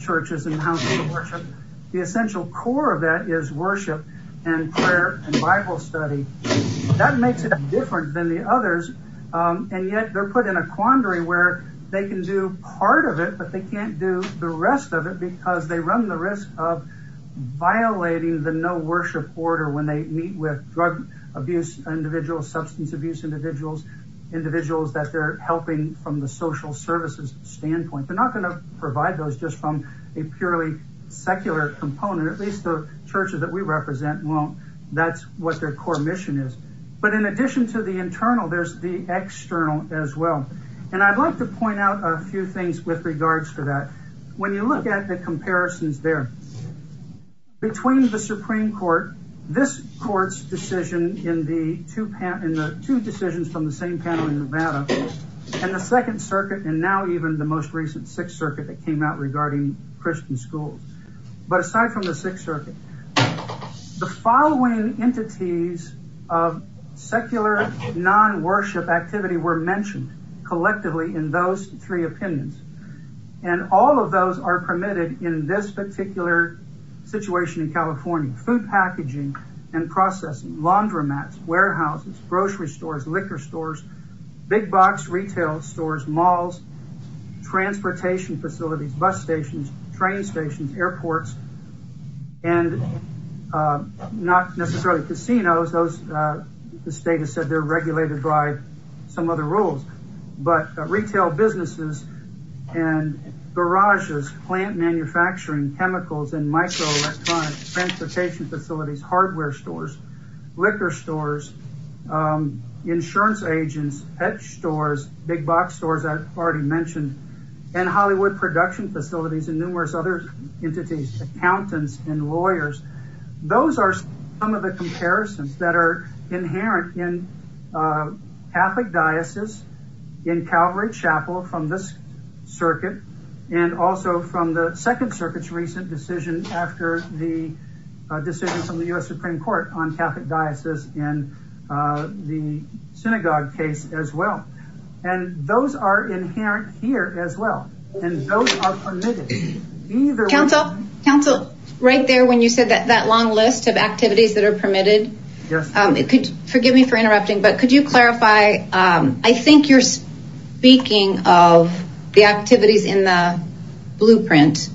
Churches and Houses of Worship, the essential core of that is worship and prayer and Bible study. That makes it different than the others, and yet they're put in a quandary where they can do part of it, but they can't do the rest of it because they run the risk of violating the no-worship order when they meet with drug abuse individuals, substance abuse individuals, individuals that they're helping from the social services standpoint. They're provide those just from a purely secular component, at least the churches that we represent won't. That's what their core mission is, but in addition to the internal, there's the external as well, and I'd like to point out a few things with regards to that. When you look at the comparisons there between the Supreme Court, this court's decision in the two decisions from the same panel in Nevada and the Second Circuit, and now even the most recent Sixth Circuit that came out regarding Christian schools, but aside from the Sixth Circuit, the following entities of secular non-worship activity were mentioned collectively in those three opinions, and all of those are permitted in this particular situation in California. Food packaging and processing, laundromats, warehouses, grocery stores, liquor stores, big box retail stores, malls, transportation facilities, bus stations, train stations, airports, and not necessarily casinos. The state has said they're regulated by some other rules, but retail businesses and garages, plant manufacturing, chemicals and microelectronics, transportation facilities, hardware stores, liquor stores, insurance agents, pet stores, big box stores I've already mentioned, and Hollywood production facilities and numerous other entities, accountants, and lawyers. Those are some of the comparisons that are inherent in Catholic diocese in Calvary Chapel from this Second Circuit's recent decision after the decision from the U.S. Supreme Court on Catholic diocese in the synagogue case as well, and those are inherent here as well, and those are permitted. Council, right there when you said that long list of activities that are permitted, forgive me for interrupting, but could you clarify, I think you're speaking of the activities in the blueprint,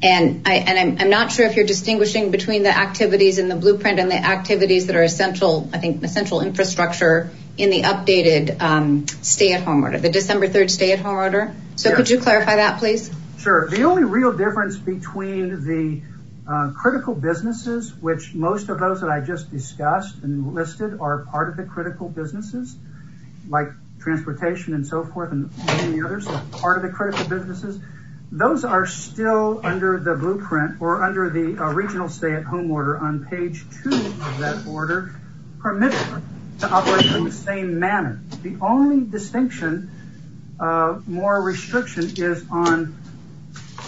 and I'm not sure if you're distinguishing between the activities in the blueprint and the activities that are essential, I think, essential infrastructure in the updated stay-at-home order, the December 3rd stay-at-home order, so could you clarify that please? Sure, the only real difference between the critical businesses, which most of those that I just discussed and listed are part of the critical businesses, like transportation and so forth, and part of the critical businesses, those are still under the blueprint or under the regional stay-at-home order on page 2 of that order, permitted to operate in the same manner. The only distinction, more restriction, is on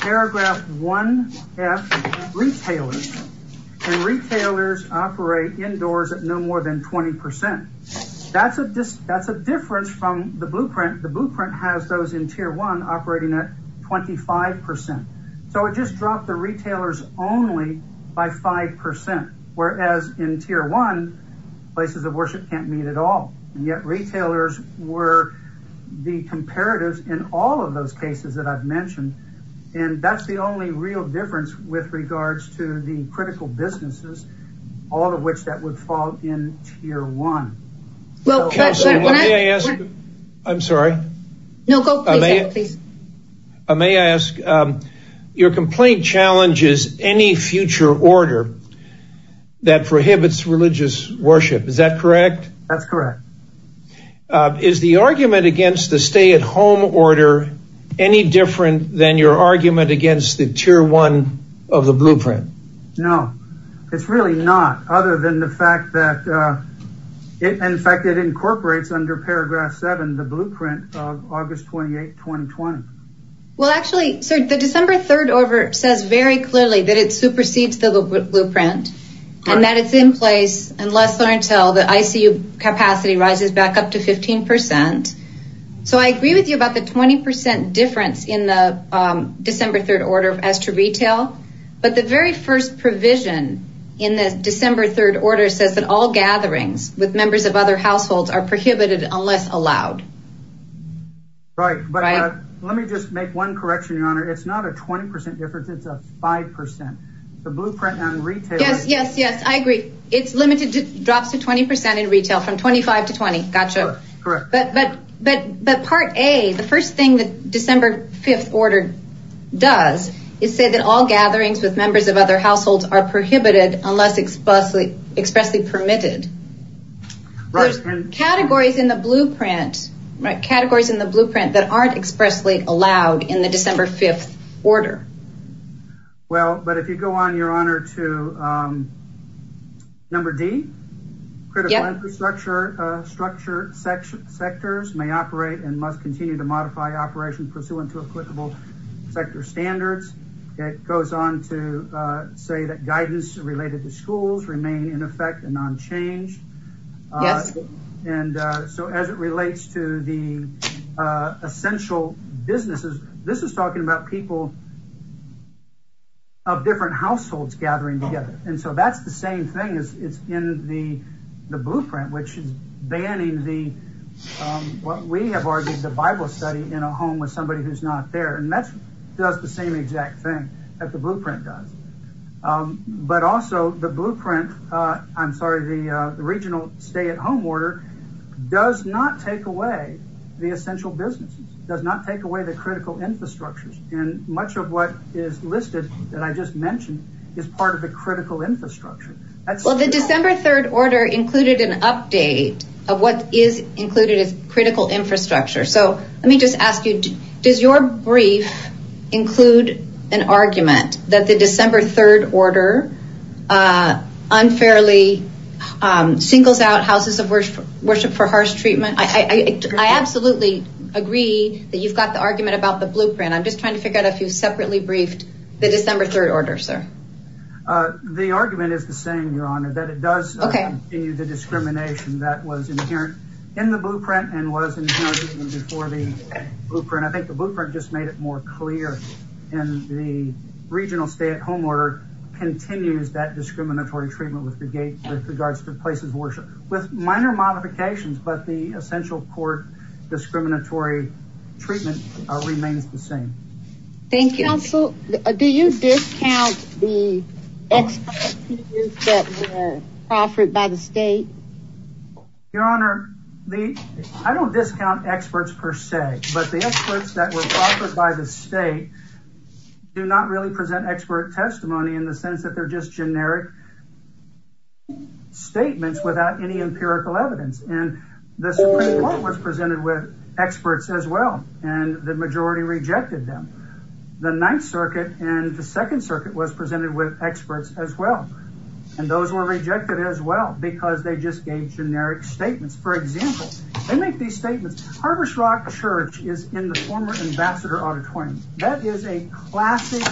paragraph 1F, retailers, and retailers operate indoors at no more than 20%. That's a difference from the blueprint. The blueprint has those in tier 1 operating at 25%, so it just dropped the retailers only by 5%, whereas in tier 1, places of worship can't meet at all, and yet retailers were the comparatives in all of those cases that I've mentioned, and that's the only real difference with regards to the critical businesses, all of which that would fall in tier 1. Well, Kelsey, may I ask? I'm sorry? No, go ahead, please. May I ask, your complaint challenges any future order that prohibits religious worship, is that correct? That's correct. Is the argument against the stay-at-home order any different than your argument against the tier 1 of the blueprint? No, it's really not, other than the fact that, in fact, it incorporates under paragraph 7, the blueprint of August 28, 2020. Well, actually, sir, the December 3rd order says very clearly that it supersedes the blueprint, and that it's in place unless or until the ICU capacity rises back up to 15%, so I agree with you about the 20% difference in the December 3rd order as to retail, but the very first provision in the December 3rd order says that all gatherings with members of other households are prohibited unless allowed. Right, but let me just make one correction, your honor. It's not a 20% difference, it's a 5%. The blueprint on retail... Yes, yes, yes, I agree. It's limited to drops to 20% in retail from 25 to 20, gotcha. Correct. But part A, the first thing that December 5th order does is say that all gatherings with members of other households are prohibited unless expressly permitted. Right. Categories in the blueprint that aren't expressly allowed in the December 5th order. Okay, well, but if you go on, your honor, to number D, critical infrastructure sectors may operate and must continue to modify operations pursuant to equitable sector standards. It goes on to say that guidance related to schools remain in effect and unchanged. Yes. And so as it relates to the essential businesses, this is talking about people of different households gathering together. And so that's the same thing as it's in the blueprint, which is banning the, what we have argued, the Bible study in a home with somebody who's not there. And that does the same exact thing that the blueprint does. But also the blueprint, I'm sorry, the regional stay-at-home order does not take away the essential businesses, does not take away the critical infrastructures. And much of what is listed that I just mentioned is part of the critical infrastructure. Well, the December 3rd order included an update of what is included as critical infrastructure. So let me just ask you, does your brief include an argument that the December 3rd order unfairly singles out houses of worship for harsh treatment? I absolutely agree that you've got the argument about the blueprint. I'm just trying to figure out if you've separately briefed the December 3rd order, sir. The argument is the same, Your Honor, that it does continue the discrimination that was inherent in the blueprint and was inherent even before the blueprint. I think the blueprint just made it more clear and the regional stay-at-home order continues that discriminatory treatment with regards to places of worship with minor modifications, but the essential court discriminatory treatment remains the same. Thank you. Counsel, do you discount the experts that were offered by the state? Your Honor, I don't discount experts per se, but the experts that were offered by the state do not really present expert testimony in the sense that they're just generic statements without any empirical evidence. And the Supreme Court was presented with experts as well, and the majority rejected them. The Ninth Circuit and the Second Circuit was presented with experts as well, and those were rejected as well because they just gave generic statements. For example, they make these statements. Harvest Rock Church is in the former Ambassador Auditorium. That is a classic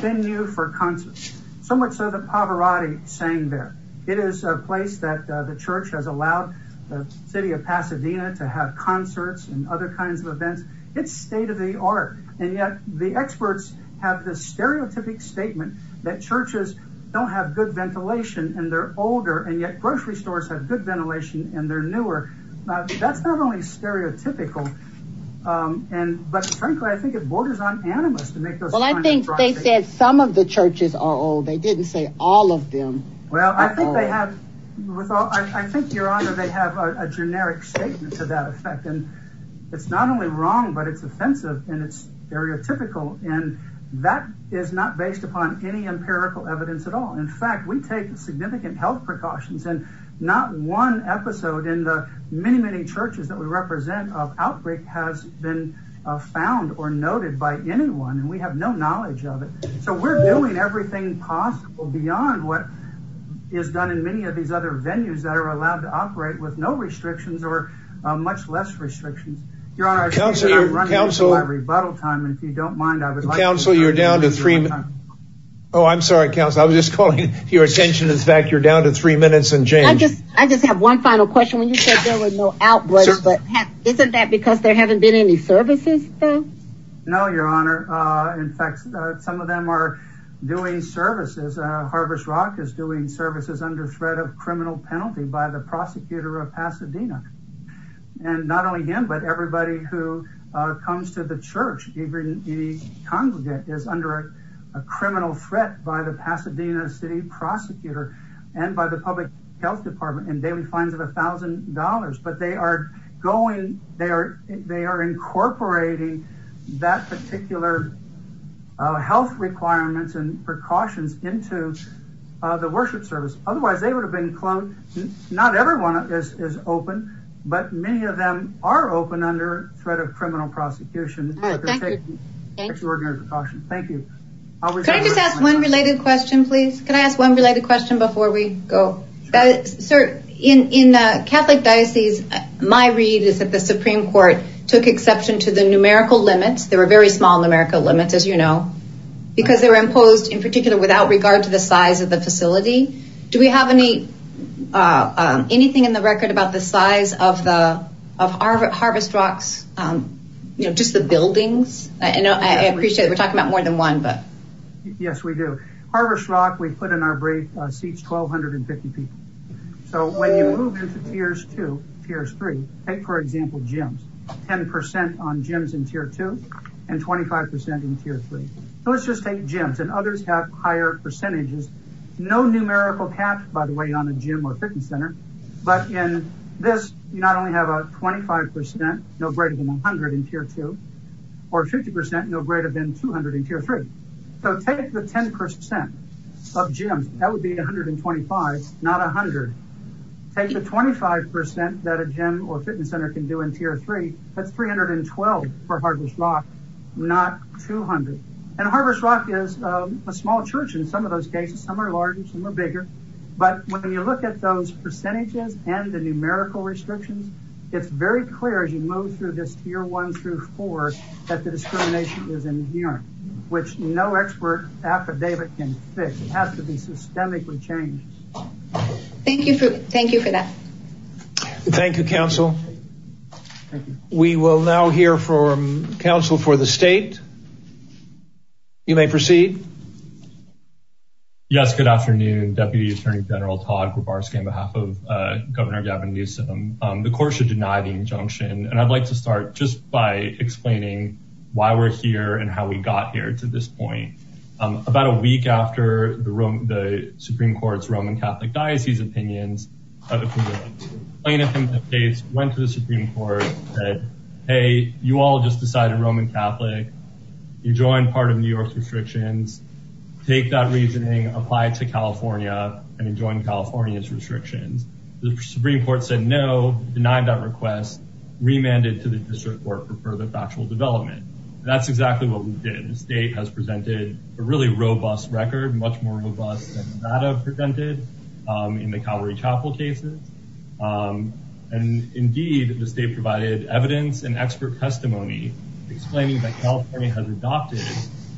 venue for concerts, so much so that Pavarotti sang there. It is a place that the church has allowed the city of Pasadena to have concerts and other kinds of events. It's state-of-the-art, and yet the experts have this stereotypic statement that churches don't have good ventilation and they're older, and yet grocery stores have good ventilation and they're newer. That's not only stereotypical, but frankly, I think it borders on animus to make those kinds of broad statements. Well, I think they said some of the churches are old. They didn't say all of them are old. Well, I think, Your Honor, they have a generic statement to that effect, and it's not only wrong, but it's offensive and it's stereotypical, and that is not based upon any empirical evidence at all. In fact, we take significant health precautions, and not one episode in the many, many churches that we represent of outbreak has been found or noted by anyone, and we have no knowledge of it. So we're doing everything possible beyond what is done in many of these other venues that are allowed to operate with no restrictions or much less restrictions. Your Honor, I think I'm running into my rebuttal time, and if you don't mind, I would like to remind you of my time. Counsel, you're down to three. Oh, I'm sorry, Counsel. Your attention is back. You're down to three minutes and change. I just have one final question. When you said there was no outbreak, but isn't that because there haven't been any services? No, Your Honor. In fact, some of them are doing services. Harvest Rock is doing services under threat of criminal penalty by the prosecutor of Pasadena. And not only him, but everybody who comes to the church, even the congregate is under a criminal threat by the Pasadena City prosecutor and by the public health department and daily fines of a thousand dollars. But they are incorporating that particular health requirements and precautions into the worship service. Otherwise, they would have been cloned. Not everyone is open, but many of them are open under threat of criminal prosecution. Thank you. Can I just ask one related question, please? Can I ask one related question before we go? Sir, in Catholic diocese, my read is that the Supreme Court took exception to the numerical limits. There were very small numerical limits, as you know, because they were imposed in particular without regard to the size of the facility. Do we have any anything in the record about the size of the of Harvest Rocks? You know, just the buildings. I know I appreciate we're talking about more than one, but. Yes, we do. Harvest Rock, we put in our brief seats 1,250 people. So when you move into Tiers 2, Tiers 3, for example, gyms, 10% on gyms in Tier 2 and 25% in Tier 3. Let's just take gyms and others have higher percentages. No numerical cap, by the way, on a gym or fitness center. But in this, you not only have a 25%, no greater than 100 in Tier 2 or 50%, no greater than 200 in Tier 3. So take the 10% of gyms. That would be 125, not 100. Take the 25% that a gym or fitness center can do in Tier 3. That's 312 for Harvest Rock, not 200. And Harvest Rock is a small church in some of those cases. Some are larger, some are bigger. But when you look at those percentages and the numerical restrictions, it's very clear as you move through this Tier 1 through 4 that the discrimination is inherent, which no expert affidavit can fix. It has to be systemically changed. Thank you for that. Thank you, counsel. We will now hear from counsel for the state. You may proceed. Yes, good afternoon. Deputy Attorney General Todd Grabarsky on behalf of Governor Gavin Newsom. The court should deny the injunction. And I'd like to start just by explaining why we're here and how we got here to this point. About a week after the Supreme Court's Roman Catholic Diocese opinions, plaintiff in that case went to the Supreme Court and said, hey, you all just decided Roman Catholic. You joined part of New York's restrictions. Take that reasoning, apply it to California and join California's restrictions. The Supreme Court said no, denied that request, remanded to the district court for further factual development. That's exactly what we did. The state has presented a really robust record, much more robust than Nevada presented in the Calvary Chapel cases. And indeed, the state provided evidence and expert testimony explaining that California has adopted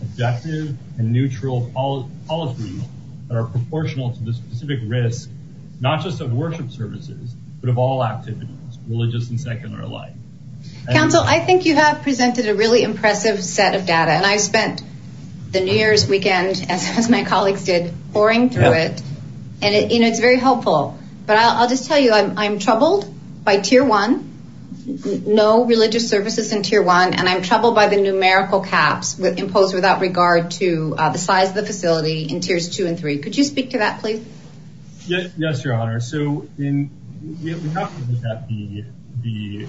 objective and neutral policies that are proportional to the specific risk, not just of worship services, but of all activities, religious and secular life. Counsel, I think you have presented a really impressive set of data. And I spent the New Year's weekend, as my colleagues did, boring through it. And it's very helpful. But I'll just tell you, I'm troubled by tier one, no religious services in tier one. And I'm troubled by the numerical caps imposed without regard to the size of the facility in tiers two and three. Could you speak to that, please? Yes, Your Honor. So we have to look at the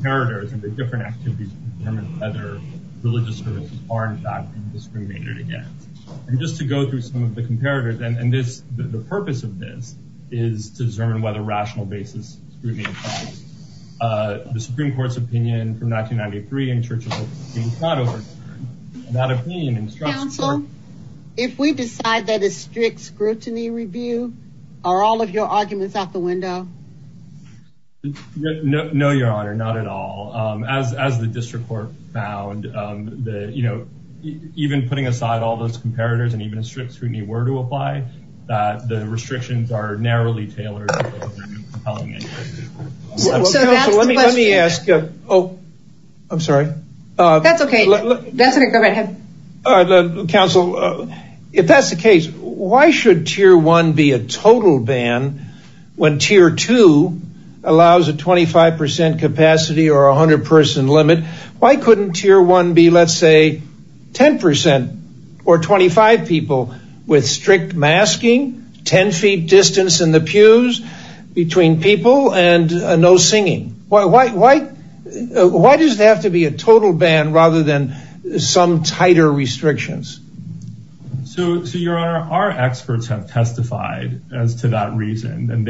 comparators and the different activities to determine whether religious services are in fact being discriminated against. And just to go through some of the comparators, and the purpose of this is to determine whether rational basis is being applied. The Supreme Court's opinion from 1993 in Churchill, not over that opinion. If we decide that a strict scrutiny review, are all of your arguments out the window? No, Your Honor, not at all. As the district court found that, you know, even putting aside all those comparators, and even a strict scrutiny were to apply, that the restrictions are narrowly tailored. Let me ask, oh, I'm sorry. That's okay. Counsel, if that's the case, why should tier one be a total ban? When tier two allows a 25% capacity or 100 person limit? Why couldn't tier one be, let's say, 10% or 25 people with strict masking, 10 feet distance in the pews between people and no singing? Why does it have to be a total ban rather than some tighter restrictions? So, Your Honor, our experts have testified as to that reason. And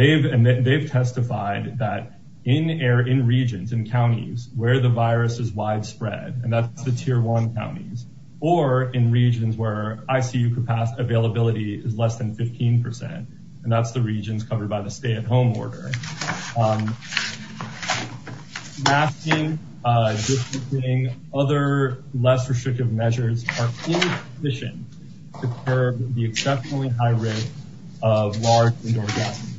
they've testified that in regions and counties where the virus is widespread, and that's the tier one counties, or in regions where ICU capacity availability is less than 15%. And that's the regions covered by the stay-at-home order. Masking, distancing, other less restrictive measures are insufficient to curb the exceptionally high rate of large indoor gatherings.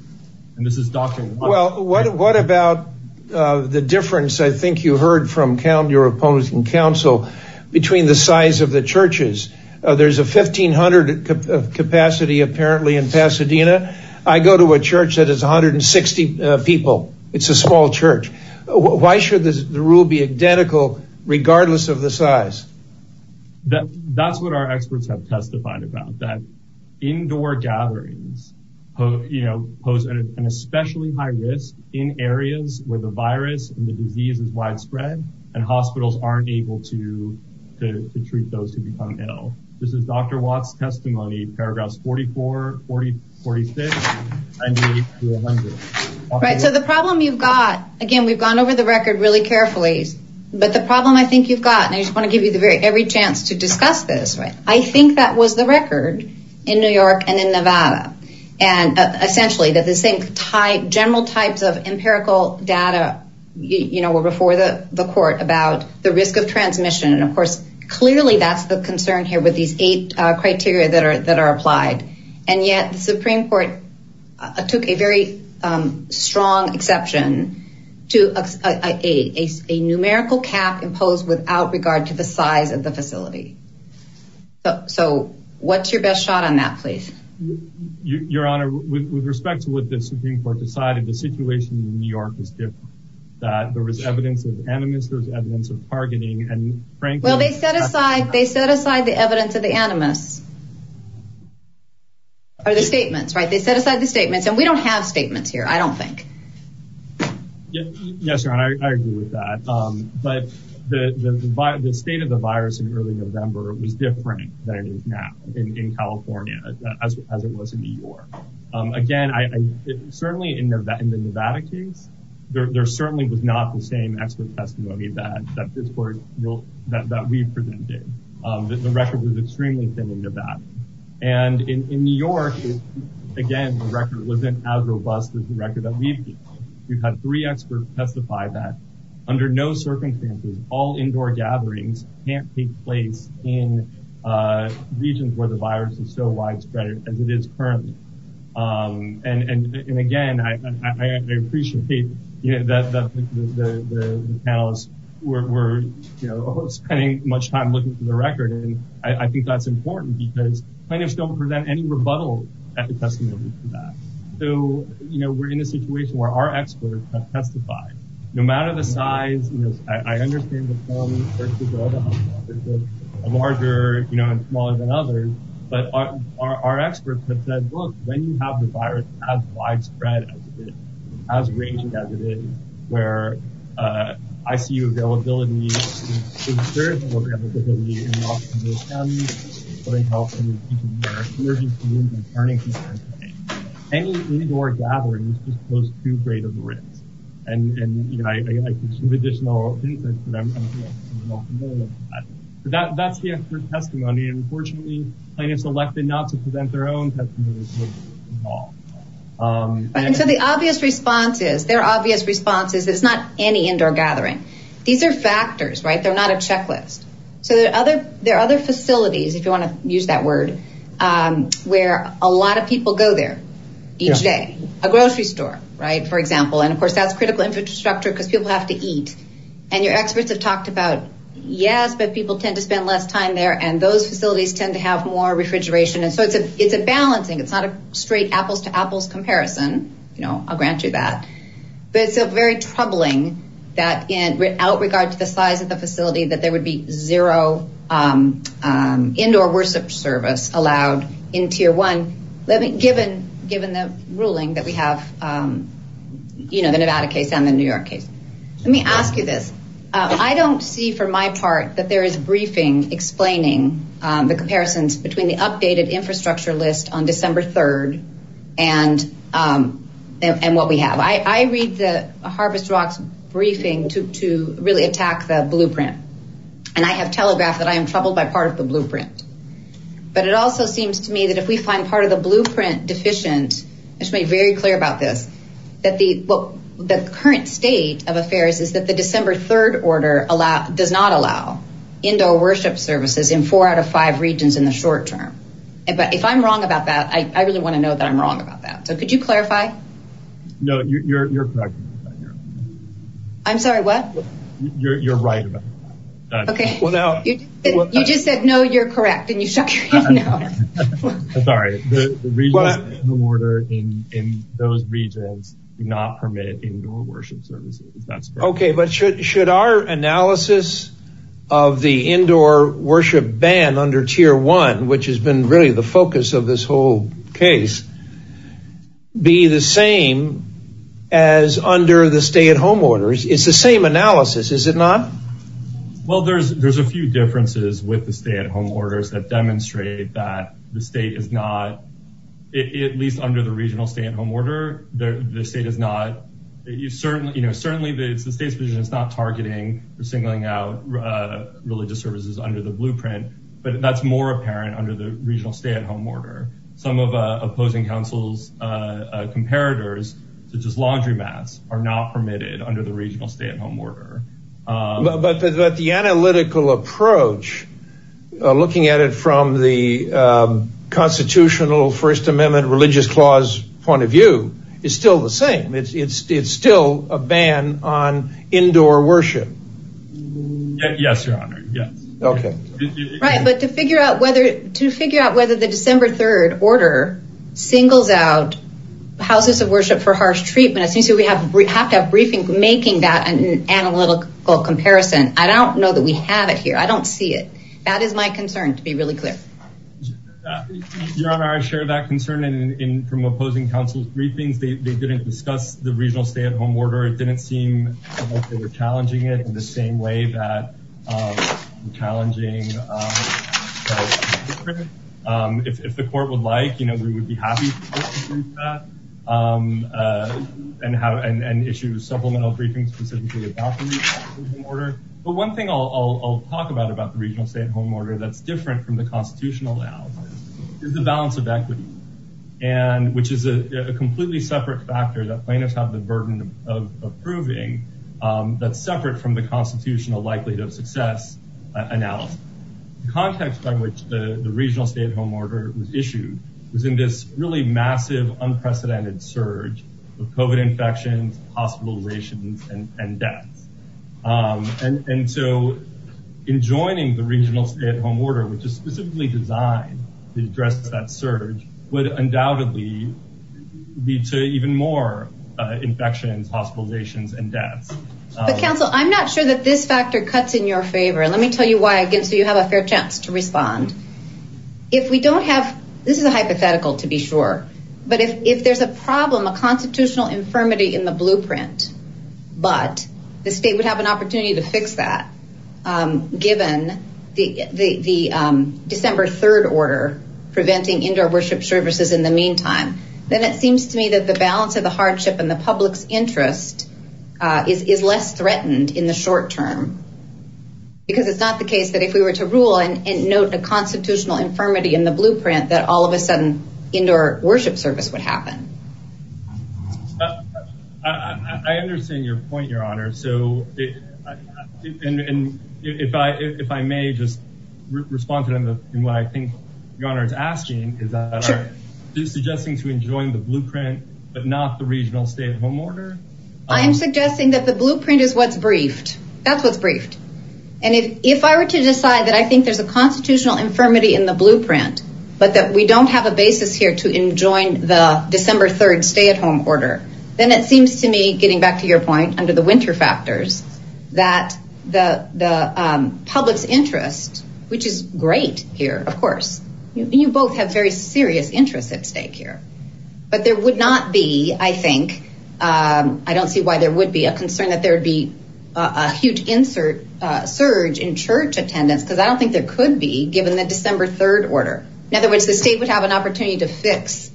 And this is doctor... Well, what about the difference, I think you heard from your opponents in counsel, between the size of the churches? There's a 1500 capacity apparently in Pasadena. I go to a church that is 160 people. It's a small church. Why should the rule be identical regardless of the size? That's what our experts have testified about, that indoor gatherings pose an especially high risk in areas where the virus and the disease is widespread, and hospitals aren't able to treat those who become ill. This is Dr. Watt's testimony, paragraphs 44, 46, and 100. Right, so the problem you've got, again, we've gone over the record really carefully, but the problem I think you've got, and I just want to give you every chance to discuss this, I think that was the record in New York and in Nevada. And essentially that the same general types of empirical data were before the court about the risk of transmission. And of course, clearly that's the concern here with these eight criteria that are applied. And yet the Supreme Court took a very strong exception to a numerical cap imposed without regard to the size of the facility. So what's your best shot on that, please? Your Honor, with respect to what the Supreme Court decided, the situation in New York is different. That there was evidence of animus, there was evidence of targeting, and frankly- Well, they set aside the evidence of the animus. Or the statements, right? They set aside the statements, and we don't have statements here, I don't think. Yes, Your Honor, I agree with that. But the state of the virus in early November was different than it is now in California, as it was in New York. Again, certainly in the Nevada case, there certainly was not the same expert testimony that we presented. The record was extremely thin in Nevada. And in New York, again, the record wasn't as robust as the record that we've had. We've had three experts testify that under no circumstances, all indoor gatherings can't take place in regions where the virus is so widespread as it is currently. And again, I appreciate that the panelists were spending much time looking for the record, and I think that's important because plaintiffs don't present any rebuttals at the testimony for that. So we're in a situation where our experts have testified. No matter the size, I understand the problem versus other hospitals, larger and smaller than others, but our experts have said, look, when you have the virus as widespread as it is, as raging as it is, where ICU availability is very low, particularly in Los Angeles County, but in California, even in our emergency rooms and turning rooms, any indoor gatherings just pose too great of a risk. And I think some additional insight for them. That's the expert testimony. Unfortunately, plaintiffs elected not to present their own testimony. So the obvious response is, there are obvious responses. It's not any indoor gathering. These are factors, right? They're not a checklist. So there are other facilities, if you want to use that word, where a lot of people go there each day, a grocery store, right, for example. And of course, that's critical infrastructure because people have to eat. And your experts have talked about, yes, but people tend to spend less time there. And those facilities tend to have more refrigeration. And so it's a balancing. It's not a straight apples to apples comparison. You know, I'll grant you that. But it's a very troubling that in, without regard to the size of the facility, that there would be zero indoor worship service allowed in tier one. Let me, given the ruling that we have, you know, the Nevada case and the New York case. Let me ask you this. I don't see for my part that there is briefing explaining the comparisons between the updated infrastructure list on December 3rd and what we have. I read the Harvest Rocks briefing to really attack the blueprint. And I have telegraphed that I am troubled by part of the blueprint. But it also seems to me that if we find part of the blueprint deficient, I should be very clear about this, that the current state of affairs is that the December 3rd order does not allow indoor worship services in four out of five regions in the short term. But if I'm wrong about that, I really want to know that I'm wrong about that. So could you clarify? No, you're correct. I'm sorry, what? You're right. OK, well, now you just said, no, you're correct. And you know, I'm sorry. The order in those regions do not permit indoor worship services. That's OK. But should our analysis of the indoor worship ban under tier one, which has been really the focus of this whole case, be the same as under the stay at home orders? It's the same analysis, is it not? Well, there's a few differences with the stay at home orders that demonstrate that the state is not, at least under the regional stay at home order, the state is not, you know, certainly the state's position is not targeting or singling out religious services under the blueprint, but that's more apparent under the regional stay at home order. Some of opposing councils' comparators, such as laundromats, are not permitted under the regional stay at home order. But the analytical approach, looking at it from the constitutional First Amendment religious clause point of view, is still the same. It's still a ban on indoor worship. Yes, your honor. Yes. OK. Right. But to figure out whether to figure out whether the December 3rd order singles out houses of worship for harsh treatment, we have to have a briefing making that an analytical comparison. I don't know that we have it here. I don't see it. That is my concern, to be really clear. Your honor, I share that concern from opposing councils' briefings. They didn't discuss the regional stay at home order. It didn't seem like they were challenging it in the same way that challenging if the court would like, you know, we would be happy. And issue supplemental briefings specifically about the regional stay at home order. But one thing I'll talk about about the regional stay at home order that's different from the constitutional layout is the balance of equity, which is a completely separate factor that plaintiffs have the burden of approving that's separate from the constitutional likelihood of success analysis. The context by which the regional stay at home order was issued was in this really massive, unprecedented surge of COVID infections, hospitalizations, and deaths. And so in joining the regional stay at home order, which is specifically designed to address that surge, would undoubtedly lead to even more infections, hospitalizations, and deaths. But counsel, I'm not sure that this factor cuts in your favor. And let me tell you why again, so you have a fair chance to respond. If we don't have, this is a hypothetical to be sure. But if there's a problem, a constitutional infirmity in the blueprint, but the state would have an opportunity to fix that, given the December 3rd order preventing indoor worship services in the meantime, then it seems to me that the balance of the hardship and the public's interest is less threatened in the short term. Because it's not the case that if we were to rule and note the constitutional infirmity in the blueprint, that all of a sudden, indoor worship service would happen. I understand your point, Your Honor. So if I may just respond to what I think Your Honor is asking, is that are you suggesting to enjoin the blueprint, but not the regional stay at home order? I am suggesting that the blueprint is what's briefed. That's what's briefed. And if I were to decide that I think there's a constitutional infirmity in the blueprint, but that we don't have a basis here to enjoin the December 3rd stay at home order, then it seems to me, getting back to your point under the winter factors, that the public's interest, which is great here, of course, you both have very serious interests at stake here. But there would not be, I think, I don't see why there would be a concern that there would be a huge surge in church attendance, because I don't think there could be given the December 3rd order. In other words, the state would have an opportunity to fix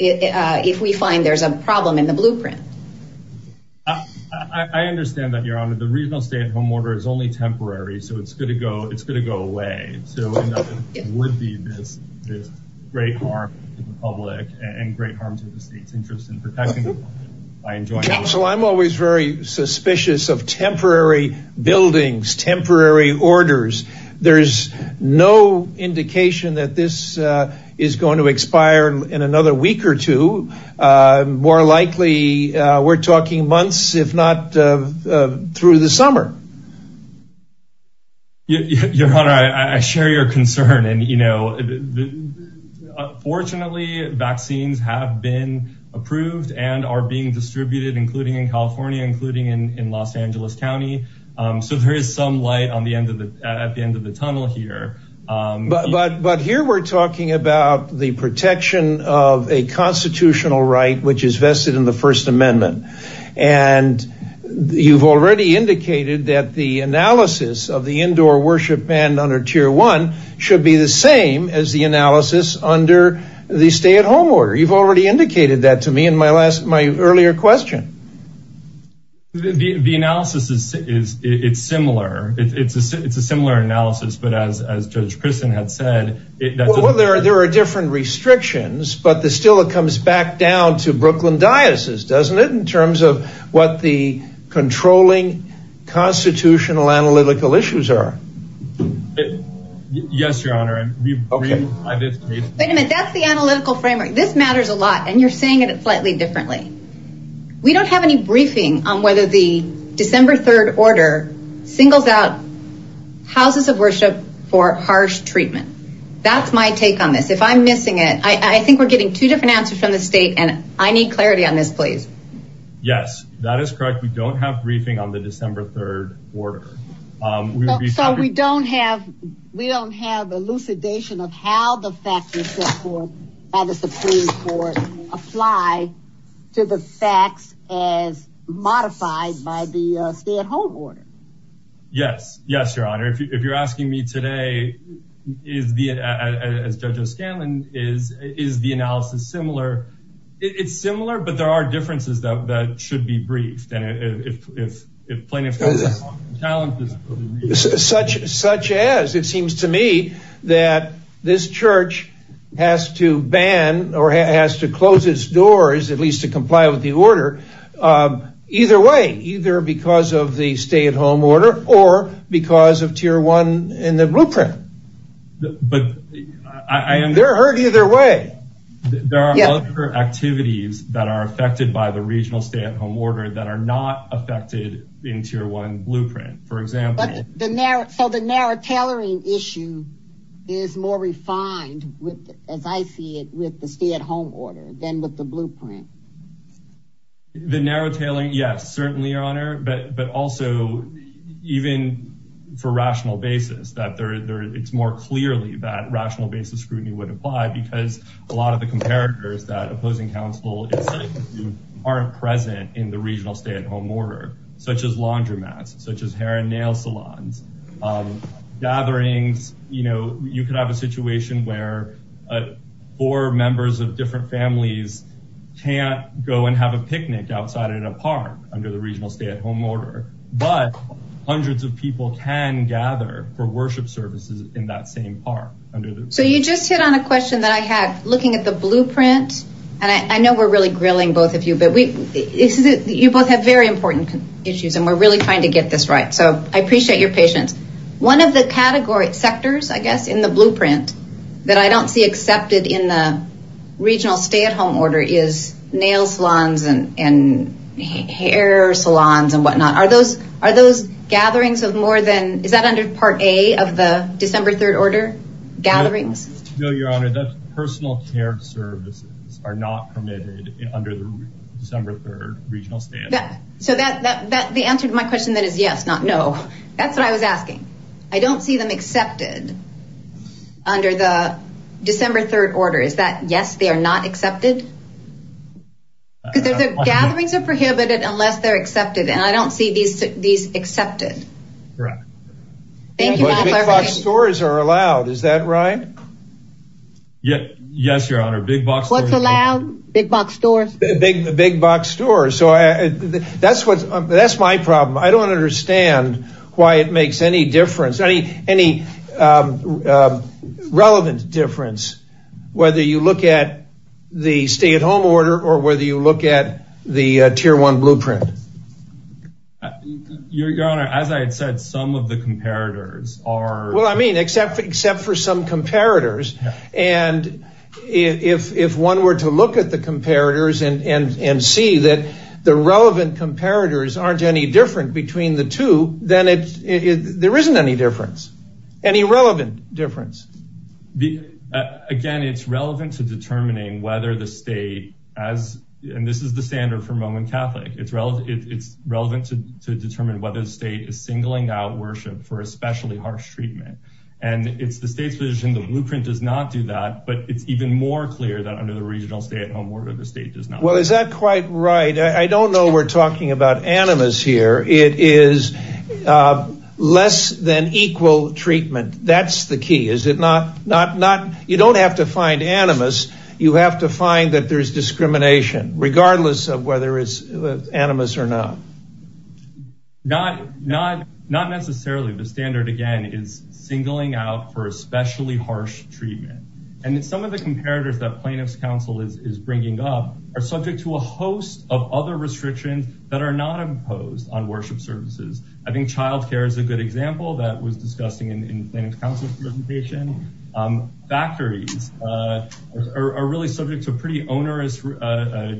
if we find there's a problem in the blueprint. I understand that, Your Honor. The regional stay at home order is only temporary. So it's going to go away. So it would be this great harm to the public and great harm to the state's interest in protecting by enjoining this. Counsel, I'm always very suspicious of temporary buildings, temporary orders. There's no indication that this is going to expire in another week or two. More likely, we're talking months, if not through the summer. Your Honor, I share your concern. You know, fortunately, vaccines have been approved and are being distributed, including in California, including in Los Angeles County. So there is some light at the end of the tunnel here. But here we're talking about the protection of a constitutional right, which is vested in the First Amendment. And you've already indicated that the analysis of the indoor worship band under Tier 1 should be the same as the analysis under the stay at home order. You've already indicated that to me in my earlier question. The analysis, it's similar. It's a similar analysis. But as Judge Christen had said... Well, there are different restrictions. But still, it comes back down to Brooklyn Diocese, doesn't it? In terms of what the controlling constitutional analytical issues are. Yes, Your Honor. Wait a minute. That's the analytical framework. This matters a lot. And you're saying it slightly differently. We don't have any briefing on whether the December 3rd order singles out houses of worship for harsh treatment. That's my take on this. If I'm missing it, I think we're getting two different answers from the state. And I need clarity on this, please. Yes, that is correct. We don't have briefing on the December 3rd order. So we don't have elucidation of how the facts of the Supreme Court apply to the facts as modified by the stay at home order. Yes. Yes, Your Honor. If you're asking me today, as Judge O'Scanlan, is the analysis similar? It's similar, but there are differences that should be briefed. Such as? It seems to me that this church has to ban or has to close its doors, at least to comply with the order. Either way, either because of the stay at home order or because of tier one in the blueprint. They're hurt either way. There are other activities that are affected by the regional stay at home order that are not affected in tier one blueprint, for example. So the narrow tailoring issue is more refined with, as I see it, with the stay at home order than with the blueprint. The narrow tailoring, yes, certainly, Your Honor. But also, even for rational basis, that it's more clearly that rational basis scrutiny would apply because a lot of the comparators that opposing counsel do aren't present in the regional stay at home order, such as laundromats, such as hair and nail salons, gatherings. You know, you could have a situation where four members of different families can't go and have a picnic outside in a park under the regional stay at home order. But hundreds of people can gather for worship services in that same park. So you just hit on a question that I had looking at the blueprint. And I know we're really grilling both of you, but you both have very important issues and we're really trying to get this right. So I appreciate your patience. One of the categories, sectors, I guess, in the blueprint that I don't see accepted in the regional stay at home order is nail salons and hair salons and whatnot. Are those gatherings of more than, is that under part A of the December 3rd order, gatherings? No, your honor. That's personal care services are not permitted under the December 3rd regional stay at home order. So the answer to my question that is yes, not no. That's what I was asking. I don't see them accepted under the December 3rd order. Is that yes, they are not accepted? Because the gatherings are prohibited unless they're accepted. And I don't see these accepted. Correct. Thank you. But big box stores are allowed, is that right? Yeah. Yes, your honor. Big box. What's allowed? Big box stores. Big, big box stores. So that's what, that's my problem. I don't understand why it makes any difference. I mean, any relevant difference, whether you look at the stay at home order or whether you look at the tier one blueprint. Your honor, as I had said, some of the comparators are. I mean, except for some comparators. And if one were to look at the comparators and see that the relevant comparators aren't any different between the two, then there isn't any difference, any relevant difference. Again, it's relevant to determining whether the state as, and this is the standard for Roman Catholic, it's relevant to determine whether the state is singling out worship for especially harsh treatment. And it's the state's position. The blueprint does not do that, but it's even more clear that under the regional stay at home order, the state does not. Well, is that quite right? I don't know. We're talking about animus here. It is less than equal treatment. That's the key. Is it not, not, not, you don't have to find animus. You have to find that there's discrimination regardless of whether it's animus or not. Not, not, not necessarily. The standard again is singling out for especially harsh treatment. And some of the comparators that plaintiff's counsel is bringing up are subject to a host of other restrictions that are not imposed on worship services. I think childcare is a good example that was discussing in plaintiff's counsel's presentation. Factories are really subject to pretty onerous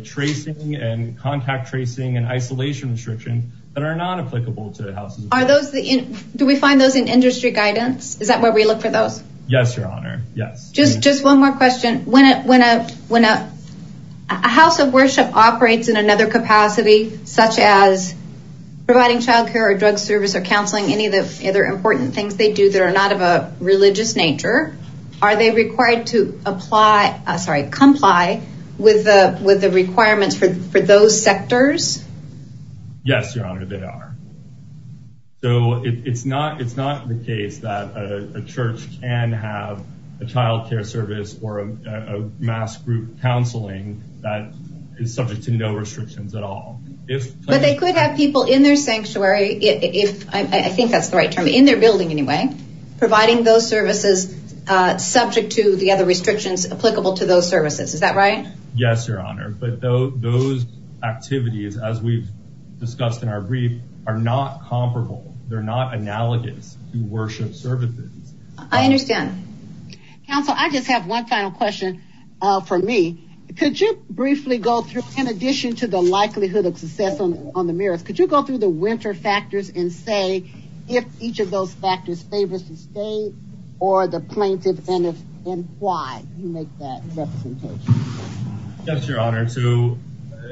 tracing and contact tracing and isolation restrictions that are not applicable to houses. Are those the, do we find those in industry guidance? Is that where we look for those? Yes, your honor. Yes. Just, just one more question. When a, when a, when a house of worship operates in another capacity, such as providing child care or drug service or counseling, any of the other important things they do that are not of a religious nature, are they required to apply, sorry, comply with the, with the requirements for those sectors? Yes, your honor, they are. So it's not, it's not the case that a church can have a childcare service or a mass group counseling that is subject to no restrictions at all. If they could have people in their sanctuary, if I think that's the right term in their building anyway, providing those services subject to the other restrictions applicable to those services. Is that right? Yes, your honor. But those, those activities, as we've discussed in our brief are not comparable. They're not analogous to worship services. I understand. Counsel, I just have one final question for me. Could you briefly go through, in addition to the likelihood of success on the mirrors, could you go through the winter factors and say if each of those factors favors the state or the plaintiff and if, and why you make that representation? Yes, your honor. So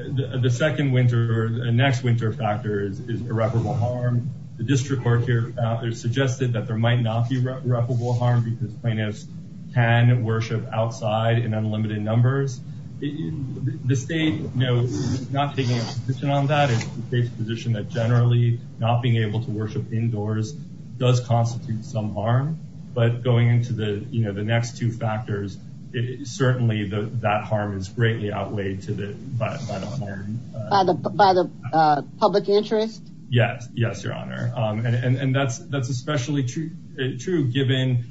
the second winter, the next winter factor is irreparable harm. The district court here out there suggested that there might not be irreparable harm because plaintiffs can worship outside in unlimited numbers. The state, you know, not taking a position on that, it's the state's position that generally not being able to worship indoors does constitute some harm, but going into the, you know, the harm is greatly outweighed by the public interest. Yes. Yes, your honor. And that's especially true given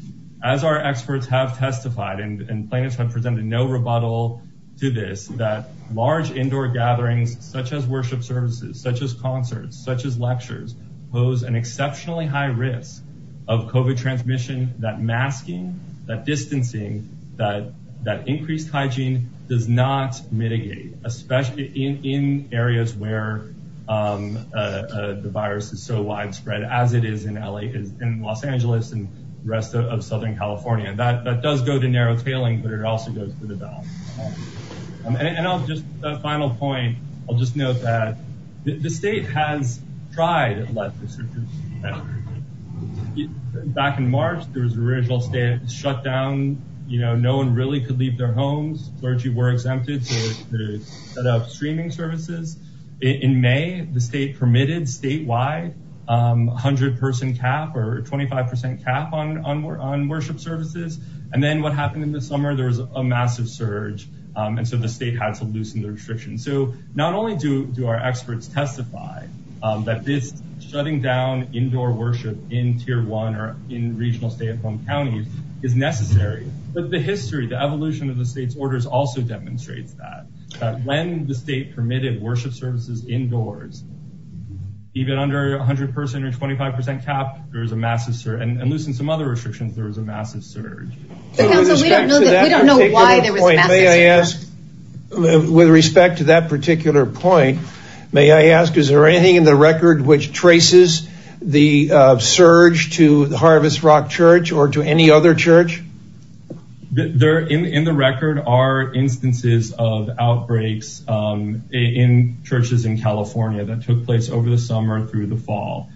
as our experts have testified and plaintiffs have presented no rebuttal to this, that large indoor gatherings, such as worship services, such as concerts, such as lectures, pose an exceptionally high risk of COVID transmission, that masking, that distancing, that increased hygiene does not mitigate, especially in areas where the virus is so widespread as it is in LA, in Los Angeles and the rest of Southern California. That does go to narrow tailing, but it also goes to the ballot. And I'll just, a final point, I'll just note that the state has tried to let the district know that back in March, there was a regional state shutdown, you know, no one really could leave their homes, clergy were exempted to set up streaming services. In May, the state permitted statewide 100 person cap or 25% cap on worship services. And then what happened in the summer, there was a massive surge. And so the state had to loosen the restrictions. So not only do our experts testify that this shutting down indoor worship in tier one or in regional stay at home counties is necessary, but the history, the evolution of the state's orders also demonstrates that when the state permitted worship services indoors, even under 100% or 25% cap, there was a massive surge and loosen some other restrictions, there was a massive surge. With respect to that particular point, may I ask, is there anything in the record which traces the surge to the Harvest Rock Church or to any other church? There in the record are instances of outbreaks in churches in California that took place over the summer through the fall.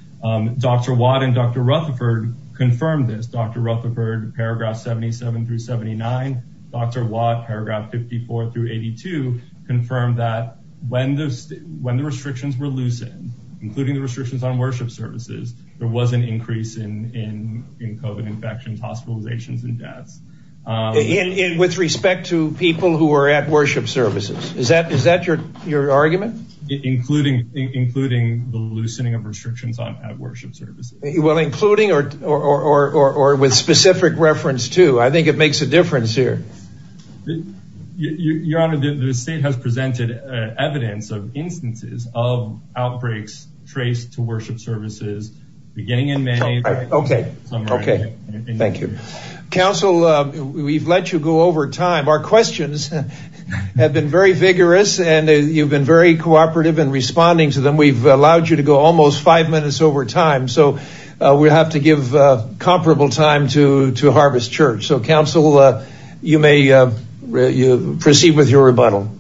Dr. Watt and Dr. Rutherford confirmed this. Dr. Rutherford, paragraph 77 through 79. Dr. Watt, paragraph 54 through 82, confirmed that when the restrictions were loosened, including the restrictions on worship services, there was an increase in COVID infections, hospitalizations and deaths. With respect to people who are at worship services, is that your argument? Including the loosening of restrictions on worship services. Well, including or with specific reference to? I think it makes a difference here. Your Honor, the state has presented evidence of instances of outbreaks traced to worship services beginning in May. Okay, thank you. Counsel, we've let you go over time. Our questions have been very vigorous and you've been very cooperative in responding to them. We've allowed you to go almost five minutes over time. So we have to give comparable time to Harvest Church. So, Counsel, you may proceed with your rebuttal.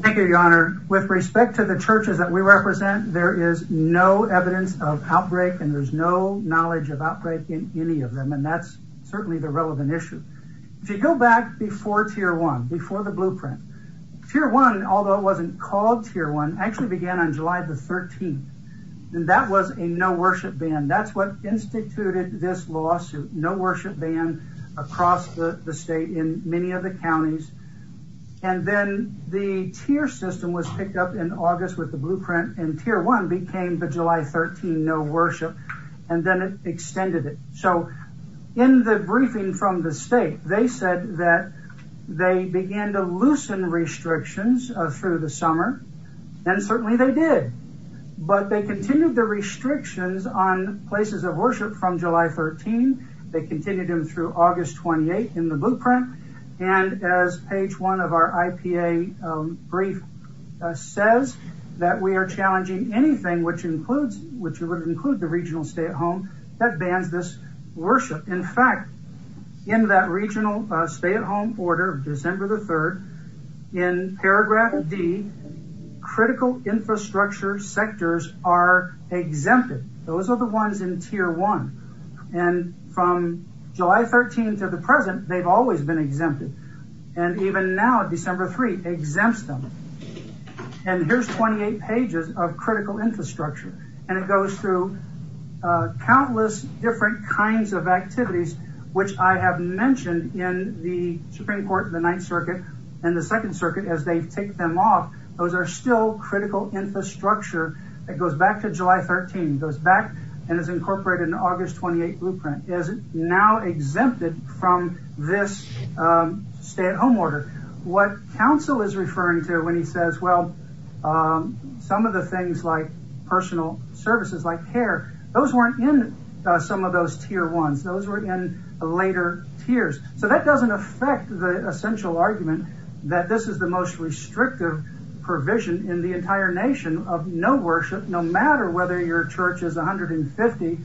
Thank you, Your Honor. With respect to the churches that we represent, there is no evidence of outbreak and there's no knowledge of outbreak in any of them. And that's certainly the relevant issue. If you go back before Tier 1, before the blueprint, Tier 1, although it wasn't called Tier 1, actually began on July the 13th. That was a no worship ban. That's what instituted this lawsuit. No worship ban across the state in many of the counties. And then the tier system was picked up in August with the blueprint and Tier 1 became the July 13 no worship. And then it extended it. In the briefing from the state, they said that they began to loosen restrictions through the summer. And certainly they did. But they continued the restrictions on places of worship from July 13. They continued them through August 28 in the blueprint. And as page one of our IPA brief says that we are challenging anything which includes the regional stay-at-home that bans this worship. In fact, in that regional stay-at-home order of December the 3rd, in paragraph D, critical infrastructure sectors are exempted. Those are the ones in Tier 1. And from July 13 to the present, they've always been exempted. And even now, December 3, exempts them. And here's 28 pages of critical infrastructure. And it goes through countless different kinds of activities, which I have mentioned in the Supreme Court, the Ninth Circuit, and the Second Circuit as they take them off. Those are still critical infrastructure that goes back to July 13, goes back and is incorporated in August 28 blueprint, is now exempted from this stay-at-home order. What counsel is referring to when he says, well, some of the things like personal services like care, those weren't in some of those Tier 1s. Those were in later tiers. So that doesn't affect the essential argument that this is the most restrictive provision in the entire nation of no worship, no matter whether your church is 150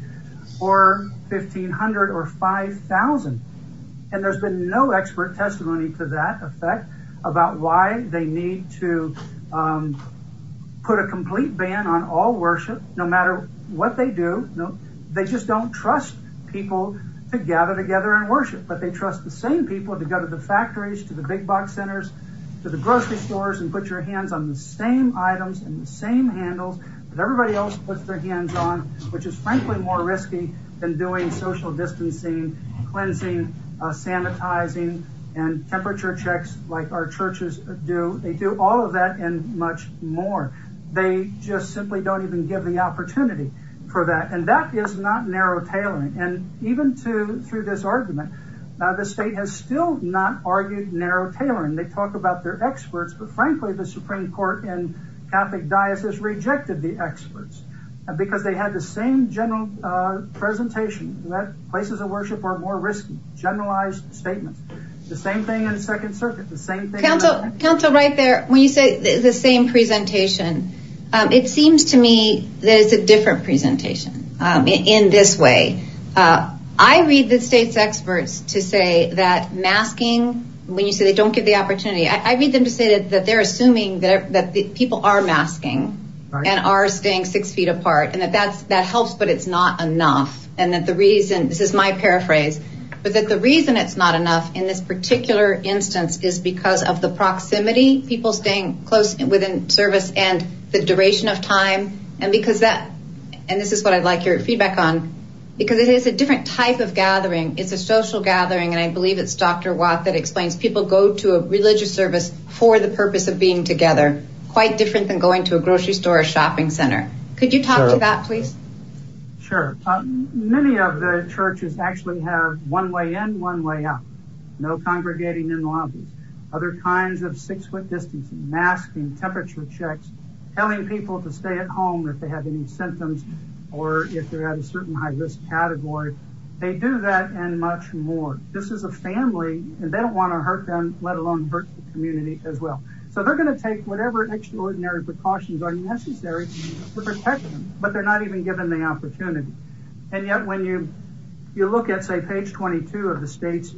or 1,500 or 5,000. And there's been no expert testimony to that effect about why they need to put a complete ban on all worship, no matter what they do. They just don't trust people to gather together and worship. But they trust the same people to go to the factories, to the big box centers, to the grocery stores and put your hands on the same items and the same handles that everybody else puts their hands on, which is frankly more risky than doing social distancing, cleansing, sanitizing, and temperature checks like our churches do. They do all of that and much more. They just simply don't even give the opportunity for that. And that is not narrow tailoring. And even through this argument, the state has still not argued narrow tailoring. They talk about their experts, but frankly, the Supreme Court and Catholic diocese rejected the experts because they had the same general presentation that places of worship are more risky. Generalized statements. The same thing in the Second Circuit. The same thing. Council, right there. When you say the same presentation, it seems to me there's a different presentation in this way. I read the state's experts to say that masking, when you say they don't give the opportunity, I read them to say that they're assuming that people are masking and are staying six feet apart. And that helps, but it's not enough. And that the reason, this is my paraphrase, but that the reason it's not enough in this particular instance is because of the proximity, people staying close within service and the duration of time. And because that, and this is what I'd like your feedback on, because it is a different type of gathering. It's a social gathering. And I believe it's Dr. Watt that explains people go to a religious service for the purpose of being together. Quite different than going to a grocery store or shopping center. Could you talk to that, please? Sure. Many of the churches actually have one way in, one way out. No congregating in lobbies. Other kinds of six foot distancing, masking, temperature checks, telling people to stay at home if they have any symptoms or if they're at a certain high risk category. They do that and much more. This is a family and they don't want to hurt them, let alone hurt the community as well. So they're going to take whatever extraordinary precautions are necessary to protect them, but they're not even given the opportunity. And yet when you, you look at say page 22 of the state's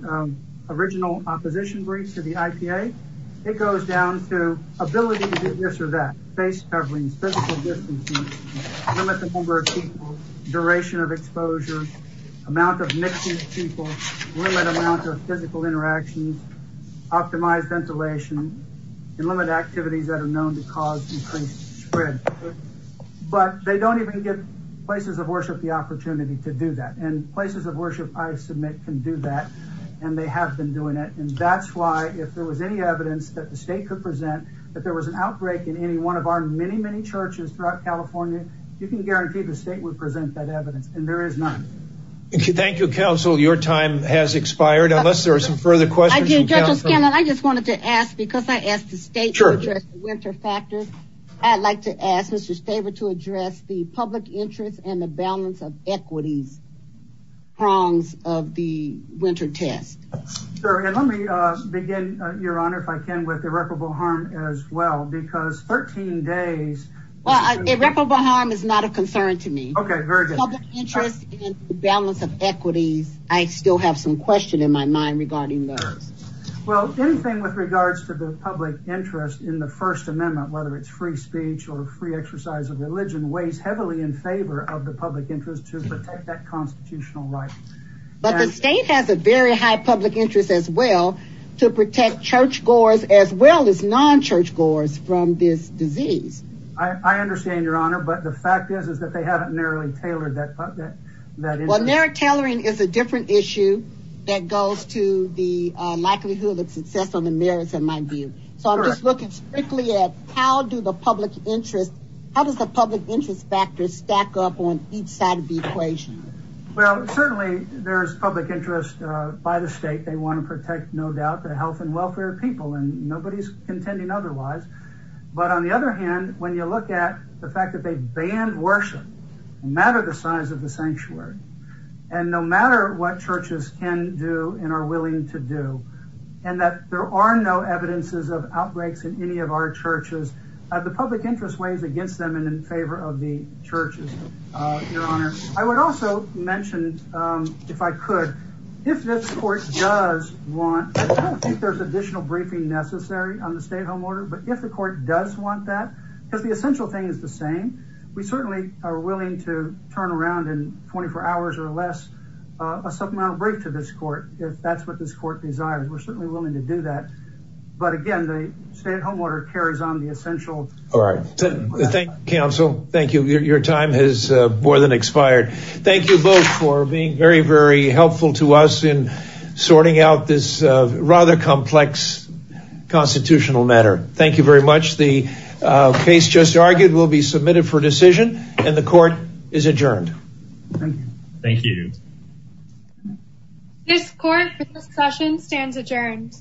original opposition briefs to the IPA, it goes down to ability to do this or that. Face coverings, physical distancing, limited number of people, duration of exposure, amount of mixing of people, limited amount of physical interactions, optimized ventilation, and limited activities that are known to cause increased spread. But they don't even give places of worship the opportunity to do that. And places of worship I submit can do that and they have been doing it. And that's why if there was any evidence that the state could present that there was an outbreak in any one of our many, many churches throughout California, you can guarantee the state would present that evidence. And there is none. Thank you, counsel. Your time has expired. Unless there are some further questions. I just wanted to ask, because I asked the state winter factor, I'd like to ask Mr. Staver to address the public interest and the balance of equities prongs of the winter test. And let me begin your honor, if I can, with irreparable harm as well, because 13 days. Well, irreparable harm is not a concern to me. Interest in the balance of equities. I still have some question in my mind regarding those. Well, anything with regards to the public interest in the First Amendment, whether it's free speech or free exercise of religion, weighs heavily in favor of the public interest to protect that constitutional right. But the state has a very high public interest as well to protect church goers as well as non-church goers from this disease. I understand your honor. But the fact is, is that they haven't narrowly tailored that. Well, narrow tailoring is a different issue that goes to the likelihood of success on the merits in my view. So I'm just looking strictly at how do the public interest, how does the public interest factor stack up on each side of the equation? Well, certainly there's public interest by the state. They want to protect, no doubt, the health and welfare of people. And nobody's contending otherwise. But on the other hand, when you look at the fact that they banned worship, no matter the size of the sanctuary, and no matter what churches can do and are willing to do, and that there are no evidences of outbreaks in any of our churches, the public interest weighs against them and in favor of the churches, your honor. I would also mention, if I could, if this court does want, I don't think there's additional briefing necessary on the stay-at-home order. But if the court does want that, because the essential thing is the same, we certainly are willing to turn around in 24 hours or less a supplemental brief to this court if that's what this court desires. We're certainly willing to do that. But again, the stay-at-home order carries on the essential. All right. Thank you, counsel. Thank you. Your time has more than expired. Thank you both for being very, very helpful to us in sorting out this rather complex constitutional matter. Thank you very much. The case just argued will be submitted for decision, and the court is adjourned. Thank you. This court for this session stands adjourned.